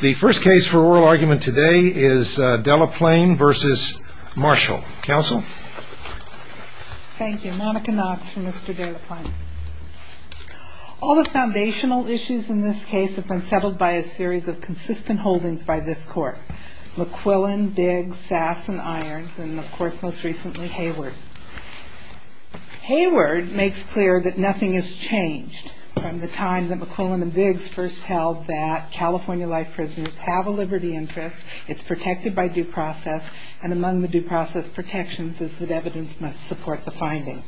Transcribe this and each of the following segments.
The first case for oral argument today is Delaplane v. Marshall. Counsel? Thank you. Monica Knox for Mr. Delaplane. All the foundational issues in this case have been settled by a series of consistent holdings by this Court. McQuillan, Biggs, Sass, and Irons, and of course most recently Hayward. Hayward makes clear that nothing has changed from the time that McQuillan and Biggs first held that California life prisoners have a liberty interest, it's protected by due process, and among the due process protections is that evidence must support the finding.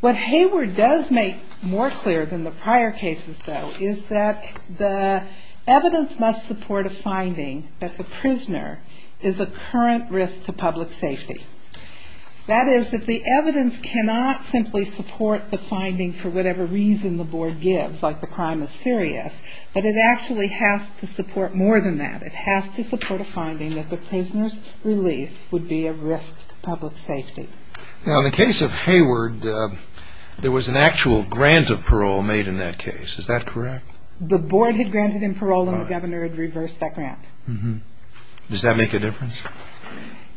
What Hayward does make more clear than the prior cases, though, is that the evidence must support a finding that the prisoner is a current risk to public safety. That is, that the evidence cannot simply support the finding for whatever reason the Board gives, like the crime is serious, but it actually has to support more than that. It has to support a finding that the prisoner's release would be a risk to public safety. Now in the case of Hayward, there was an actual grant of parole made in that case, is that correct? The Board had granted him parole and the Governor had reversed that grant. Does that make a difference?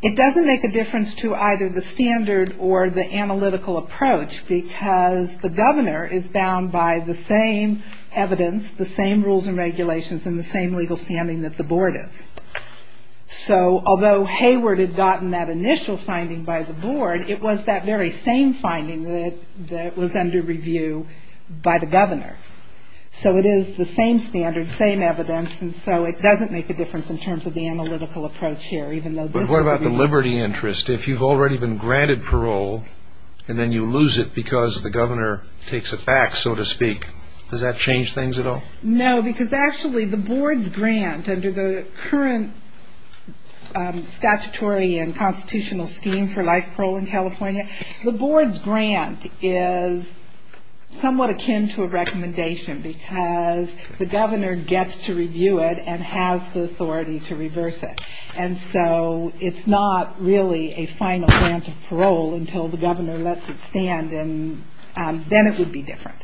It doesn't make a difference to either the standard or the analytical approach, because the Governor is bound by the same evidence, the same rules and regulations, and the same legal standing that the Board is. So although Hayward had gotten that initial finding by the Board, it was that very same finding that was under review by the Governor. So it is the same standard, same evidence, and so it doesn't make a difference in terms of the analytical approach here. But what about the liberty interest? If you've already been granted parole and then you lose it because the Governor takes it back, so to speak, does that change things at all? No, because actually the Board's grant under the current statutory and constitutional scheme for life parole in California, the Board's grant is somewhat akin to a recommendation because the Governor gets to review it and has the authority to reverse it. And so it's not really a final grant of parole until the Governor lets it stand, and then it would be different.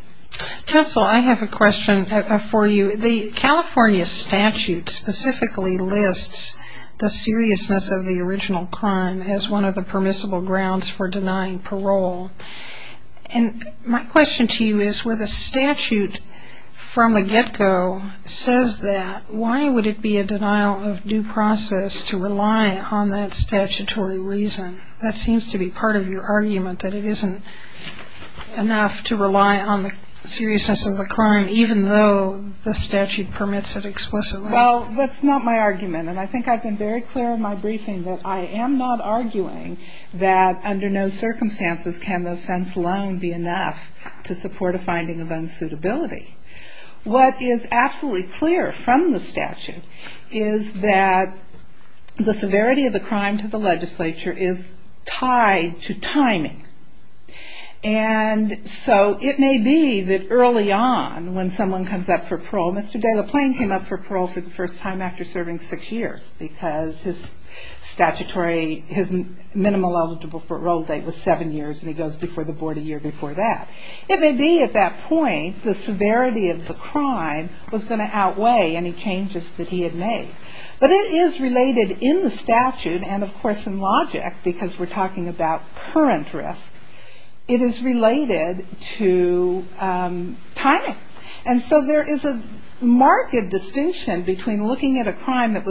Counsel, I have a question for you. The California statute specifically lists the seriousness of the original crime as one of the permissible grounds for denying parole. And my question to you is where the statute from the get-go says that, why would it be a denial of due process to rely on that statutory reason? That seems to be part of your argument that it isn't enough to rely on the seriousness of the crime even though the statute permits it explicitly. Well, that's not my argument, and I think I've been very clear in my briefing that I am not arguing that under no circumstances can the offense alone be enough to support a finding of unsuitability. What is absolutely clear from the statute is that the severity of the crime to the legislature is tied to timing. And so it may be that early on when someone comes up for parole, Mr. De La Plain came up for parole for the first time after serving six years because his statutory, his minimal eligible parole date was seven years and he goes before the board a year before that. It may be at that point the severity of the crime was going to outweigh any changes that he had made. But it is related in the statute and, of course, in logic, because we're talking about current risk, it is related to timing. And so there is a marked distinction between looking at a crime that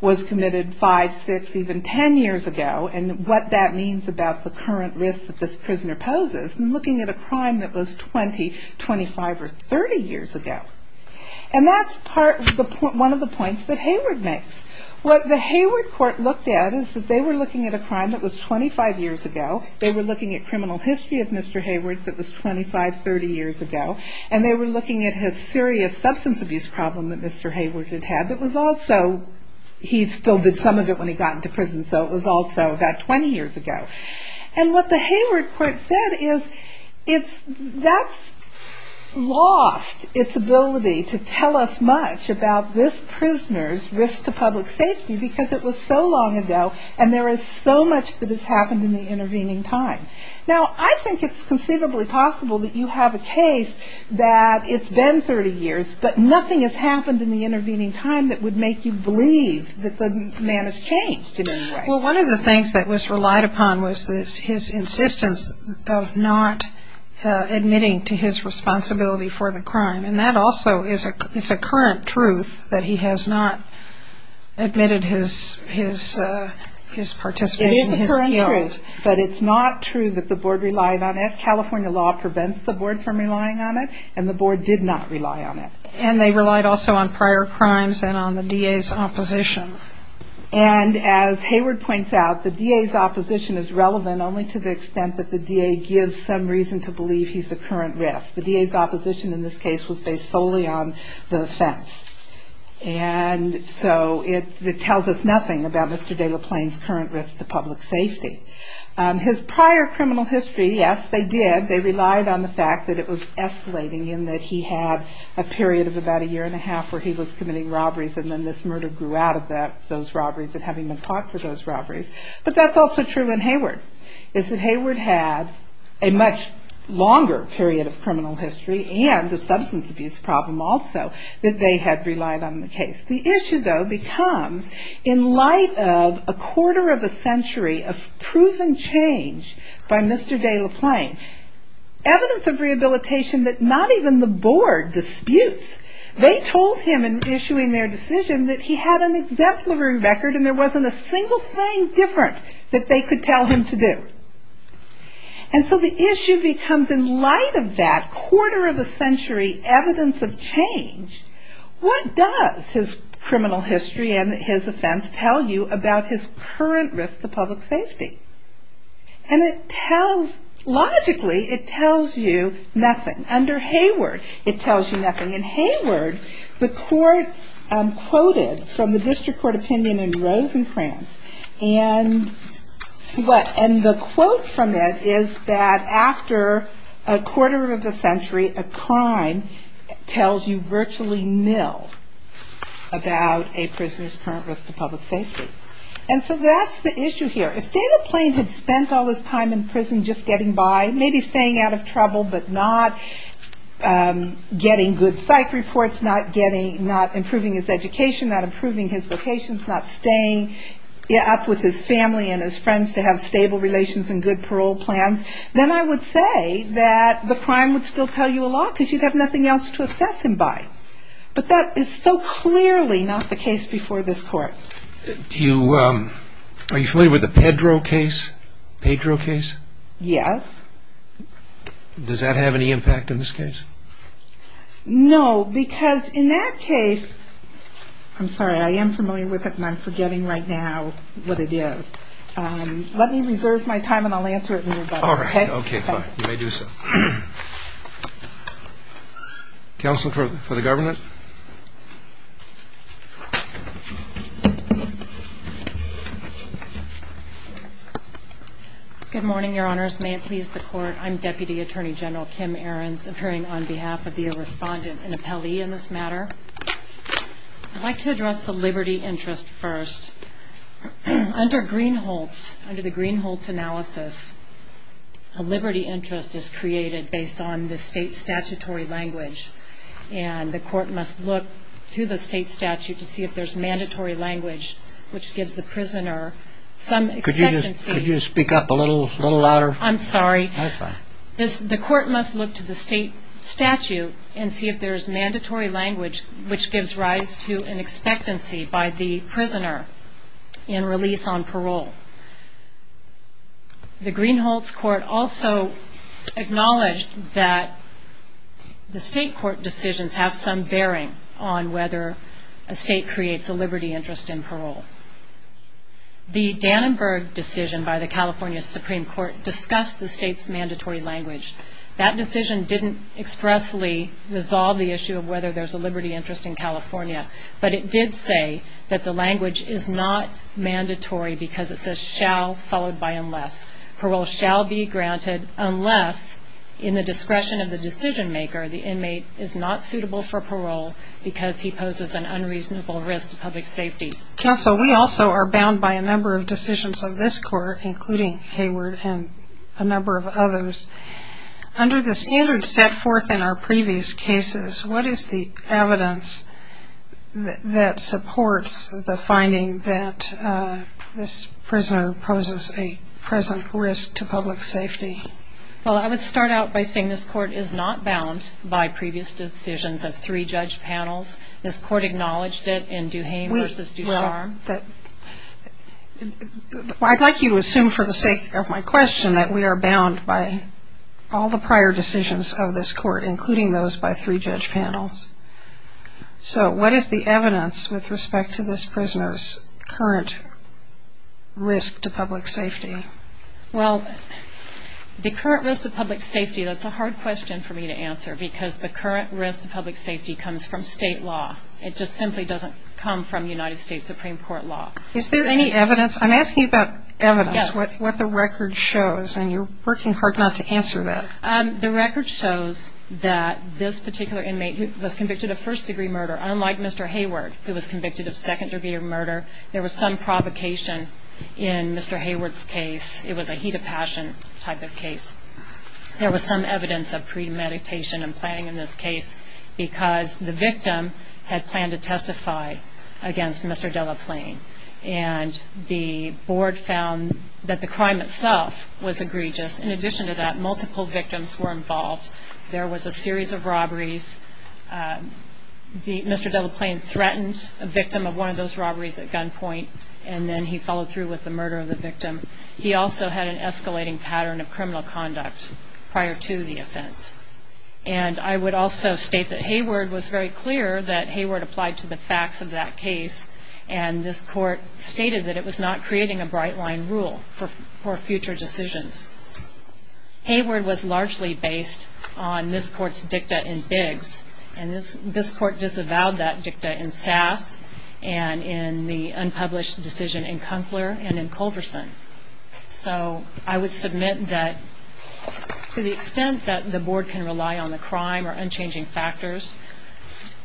was committed five, six, even ten years ago and what that means about the current risk that this prisoner poses and looking at a crime that was 20, 25 or 30 years ago. And that's one of the points that Hayward makes. What the Hayward court looked at is that they were looking at a crime that was 25 years ago, they were looking at criminal history of Mr. Hayward that was 25, 30 years ago, and they were looking at his serious substance abuse problem that Mr. Hayward had had that was also, he still did some of it when he got into prison, so it was also about 20 years ago. And what the Hayward court said is that's lost its ability to tell us much about this prisoner's risk to public safety because it was so long ago and there is so much that has happened in the intervening time. Now, I think it's conceivably possible that you have a case that it's been 30 years but nothing has happened in the intervening time that would make you believe that the man has changed in any way. Well, one of the things that was relied upon was his insistence of not admitting to his responsibility for the crime and that also is a current truth that he has not admitted his participation, his guilt. But it's not true that the board relied on it. California law prevents the board from relying on it and the board did not rely on it. And they relied also on prior crimes and on the DA's opposition. And as Hayward points out, the DA's opposition is relevant only to the extent that the DA gives some reason to believe he's a current risk. The DA's opposition in this case was based solely on the offense. And so it tells us nothing about Mr. De La Plain's current risk to public safety. His prior criminal history, yes, they did, they relied on the fact that it was escalating in that he had a period of about a year and a half where he was committing robberies and then this murder grew out of those robberies and having been caught for those robberies. But that's also true in Hayward, is that Hayward had a much longer period of criminal history and a substance abuse problem also that they had relied on in the case. The issue, though, becomes in light of a quarter of a century of proven change by Mr. De La Plain, evidence of rehabilitation that not even the board disputes. They told him in issuing their decision that he had an exemplary record and there wasn't a single thing different that they could tell him to do. And so the issue becomes in light of that quarter of a century evidence of change, what does his criminal history and his offense tell you about his current risk to public safety? And it tells, logically, it tells you nothing. Under Hayward, it tells you nothing. In Hayward, the court quoted from the district court opinion in Rosencrantz and the quote from it is that after a quarter of a century, a crime tells you virtually nil about a prisoner's current risk to public safety. And so that's the issue here. If De La Plain had spent all this time in prison just getting by, maybe staying out of trouble but not getting good psych reports, not improving his education, not improving his vocations, not staying up with his family and his friends to have stable relations and good parole plans, then I would say that the crime would still tell you a lot because you'd have nothing else to assess him by. But that is so clearly not the case before this court. Are you familiar with the Pedro case? Yes. Does that have any impact on this case? No, because in that case, I'm sorry, I am familiar with it and I'm forgetting right now what it is. Let me reserve my time and I'll answer it later. All right. Okay, fine. You may do so. Counsel for the government. Good morning, Your Honors. May it please the Court. I'm Deputy Attorney General Kim Ahrens, appearing on behalf of the respondent and appellee in this matter. I'd like to address the liberty interest first. Under Greenholz, under the Greenholz analysis, a liberty interest is created based on the state statutory language, and the court must look to the state statute to see if there's mandatory language, which gives the prisoner some expectancy. Could you speak up a little louder? I'm sorry. That's fine. The court must look to the state statute and see if there's mandatory language, which gives rise to an expectancy by the prisoner in release on parole. The Greenholz court also acknowledged that the state court decisions have some bearing on whether a state creates a liberty interest in parole. The Dannenberg decision by the California Supreme Court discussed the state's mandatory language. That decision didn't expressly resolve the issue of whether there's a liberty interest in California, but it did say that the language is not mandatory because it says shall followed by unless. Parole shall be granted unless, in the discretion of the decision maker, the inmate is not suitable for parole because he poses an unreasonable risk to public safety. Counsel, we also are bound by a number of decisions of this court, including Hayward and a number of others. Under the standard set forth in our previous cases, what is the evidence that supports the finding that this prisoner poses a present risk to public safety? Well, I would start out by saying this court is not bound by previous decisions of three judge panels. This court acknowledged it in Duhame v. Ducharme. I'd like you to assume for the sake of my question that we are bound by all the prior decisions of this court, including those by three judge panels. So what is the evidence with respect to this prisoner's current risk to public safety? Well, the current risk to public safety, that's a hard question for me to answer because the current risk to public safety comes from State law. It just simply doesn't come from United States Supreme Court law. Is there any evidence? I'm asking about evidence. Yes. What the record shows, and you're working hard not to answer that. The record shows that this particular inmate was convicted of first degree murder, unlike Mr. Hayward, who was convicted of second degree murder. There was some provocation in Mr. Hayward's case. It was a heat of passion type of case. There was some evidence of premeditation and planning in this case because the victim had planned to testify against Mr. Delaplane, and the board found that the crime itself was egregious. In addition to that, multiple victims were involved. There was a series of robberies. Mr. Delaplane threatened a victim of one of those robberies at gunpoint, and then he followed through with the murder of the victim. He also had an escalating pattern of criminal conduct prior to the offense. And I would also state that Hayward was very clear that Hayward applied to the facts of that case, and this court stated that it was not creating a bright line rule for future decisions. Hayward was largely based on this court's dicta in Biggs, and this court disavowed that dicta in Sass and in the unpublished decision in Kunkler and in Culverson. So I would submit that to the extent that the board can rely on the crime or unchanging factors,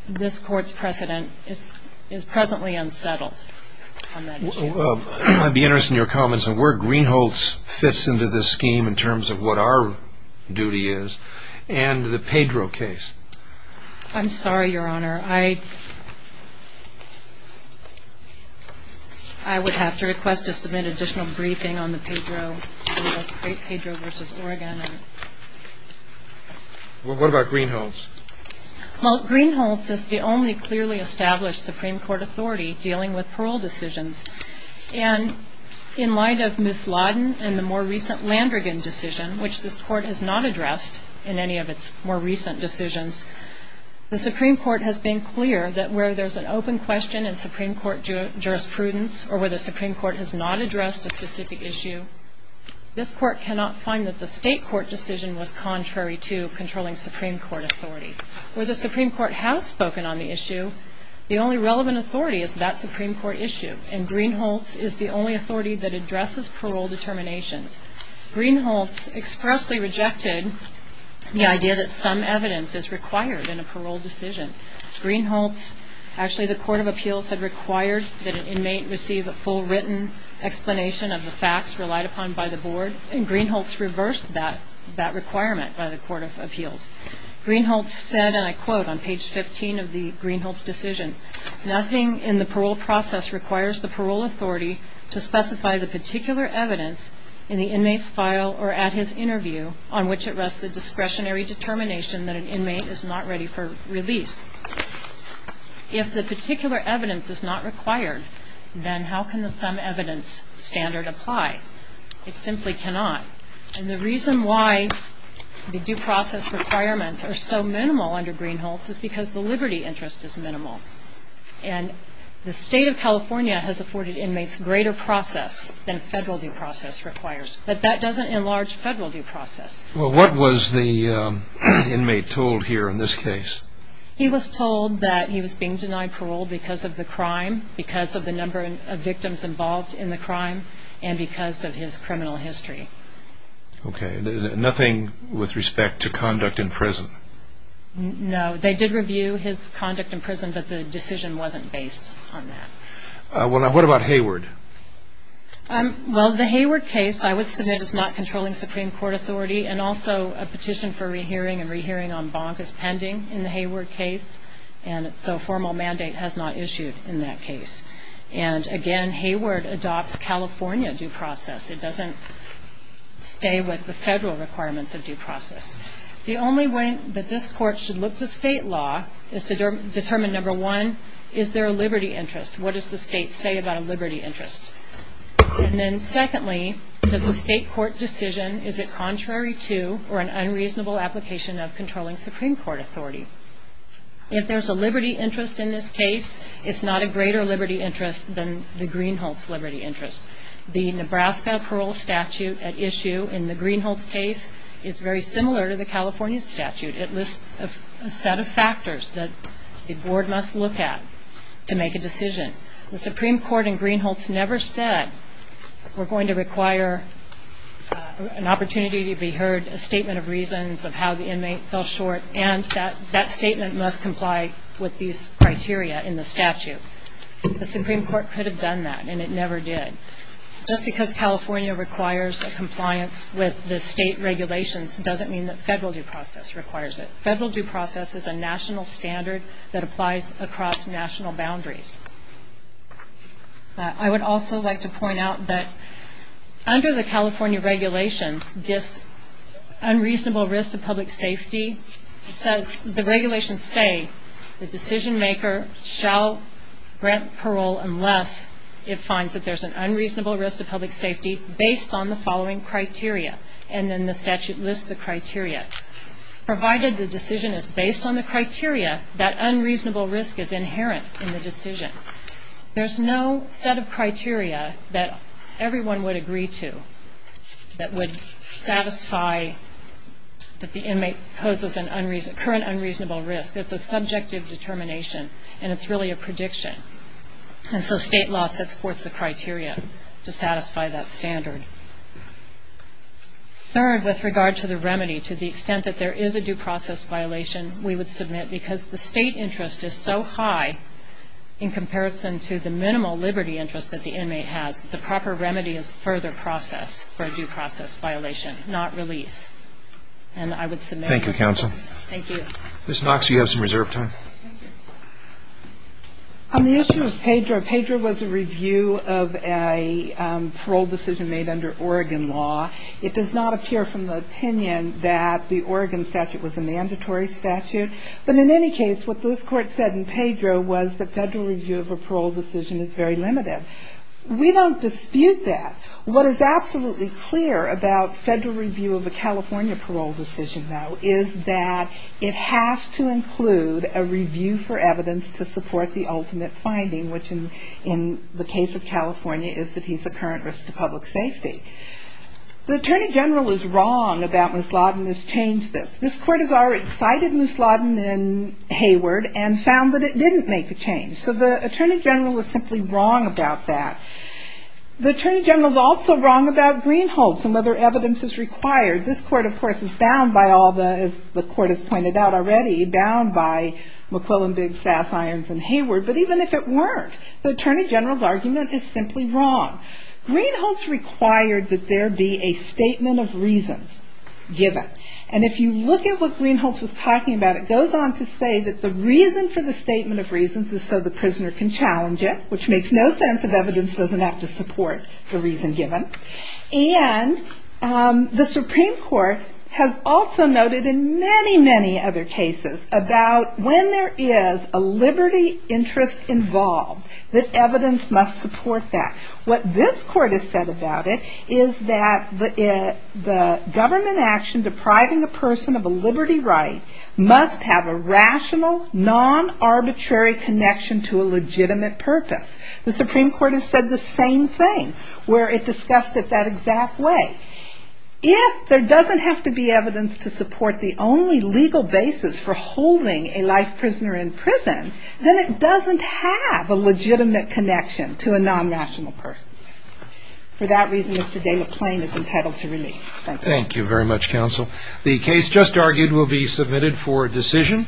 this court's precedent is presently unsettled on that issue. I'd be interested in your comments on where Greenholtz fits into this scheme in terms of what our duty is and the Pedro case. I'm sorry, Your Honor. I would have to request to submit additional briefing on the Pedro versus Oregon. What about Greenholtz? Well, Greenholtz is the only clearly established Supreme Court authority dealing with parole decisions. And in light of Ms. Lawden and the more recent Landrigan decision, which this court has not addressed in any of its more recent decisions, the Supreme Court has been clear that where there's an open question in Supreme Court jurisprudence or where the Supreme Court has not addressed a specific issue, this court cannot find that the state court decision was contrary to controlling Supreme Court authority. Where the Supreme Court has spoken on the issue, the only relevant authority is that Supreme Court issue, and Greenholtz is the only authority that addresses parole determinations. Greenholtz expressly rejected the idea that some evidence is required in a parole decision. Greenholtz, actually the Court of Appeals had required that an inmate receive a full written explanation of the facts relied upon by the board, and Greenholtz reversed that requirement by the Court of Appeals. Greenholtz said, and I quote on page 15 of the Greenholtz decision, nothing in the parole process requires the parole authority to specify the particular evidence in the inmate's file or at his interview on which it rests the discretionary determination that an inmate is not ready for release. If the particular evidence is not required, then how can the some evidence standard apply? It simply cannot. And the reason why the due process requirements are so minimal under Greenholtz is because the liberty interest is minimal. And the state of California has afforded inmates greater process than federal due process requires, but that doesn't enlarge federal due process. Well, what was the inmate told here in this case? He was told that he was being denied parole because of the crime, because of the number of victims involved in the crime, and because of his criminal history. Okay. Nothing with respect to conduct in prison? No. They did review his conduct in prison, but the decision wasn't based on that. Well, now, what about Hayward? Well, the Hayward case I would submit is not controlling Supreme Court authority, and also a petition for rehearing and rehearing en banc is pending in the Hayward case, and so formal mandate has not issued in that case. And, again, Hayward adopts California due process. It doesn't stay with the federal requirements of due process. The only way that this court should look to state law is to determine, number one, is there a liberty interest? What does the state say about a liberty interest? And then, secondly, does the state court decision, is it contrary to or an unreasonable application of controlling Supreme Court authority? If there's a liberty interest in this case, it's not a greater liberty interest than the Greenholts liberty interest. The Nebraska parole statute at issue in the Greenholts case is very similar to the California statute. It lists a set of factors that the board must look at to make a decision. The Supreme Court in Greenholts never said we're going to require an opportunity to be heard, a statement of reasons of how the inmate fell short, and that statement must comply with these criteria in the statute. The Supreme Court could have done that, and it never did. Just because California requires a compliance with the state regulations doesn't mean that federal due process requires it. Federal due process is a national standard that applies across national boundaries. I would also like to point out that under the California regulations, this unreasonable risk to public safety says, the regulations say, the decision maker shall grant parole unless it finds that there's an unreasonable risk to public safety based on the following criteria. And then the statute lists the criteria. Provided the decision is based on the criteria, that unreasonable risk is inherent in the decision. There's no set of criteria that everyone would agree to that would satisfy that the inmate poses a current unreasonable risk. It's a subjective determination, and it's really a prediction. And so state law sets forth the criteria to satisfy that standard. Third, with regard to the remedy, to the extent that there is a due process violation, we would submit because the state interest is so high in comparison to the minimal liberty interest that the inmate has, the proper remedy is further process for a due process violation, not release. And I would submit. Thank you, counsel. Thank you. Ms. Knox, you have some reserve time. On the issue of Pedro, Pedro was a review of a parole decision made under Oregon law. It does not appear from the opinion that the Oregon statute was a mandatory statute. But in any case, what this court said in Pedro was that federal review of a parole decision is very limited. We don't dispute that. What is absolutely clear about federal review of a California parole decision, though, is that it has to include a review for evidence to support the ultimate finding, which in the case of California is that he's a current risk to public safety. The attorney general is wrong about Ms. Lawton has changed this. This court has already cited Ms. Lawton in Hayward and found that it didn't make a change. So the attorney general is simply wrong about that. The attorney general is also wrong about Greenholz and whether evidence is required. This court, of course, is bound by all the, as the court has pointed out already, bound by McQuillan, Biggs, Sass, Irons, and Hayward. But even if it weren't, the attorney general's argument is simply wrong. Greenholz required that there be a statement of reasons given. And if you look at what Greenholz was talking about, it goes on to say that the reason for the statement of reasons is so the prisoner can challenge it, which makes no sense if evidence doesn't have to support the reason given. And the Supreme Court has also noted in many, many other cases about when there is a liberty interest involved, that evidence must support that. What this court has said about it is that the government action depriving a person of a liberty right must have a rational, non-arbitrary connection to a legitimate purpose. The Supreme Court has said the same thing, where it discussed it that exact way. If there doesn't have to be evidence to support the only legal basis for holding a life prisoner in prison, then it doesn't have a legitimate connection to a non-rational person. For that reason, Mr. Delaplane is entitled to release. Thank you. Thank you very much, counsel. The case just argued will be submitted for decision.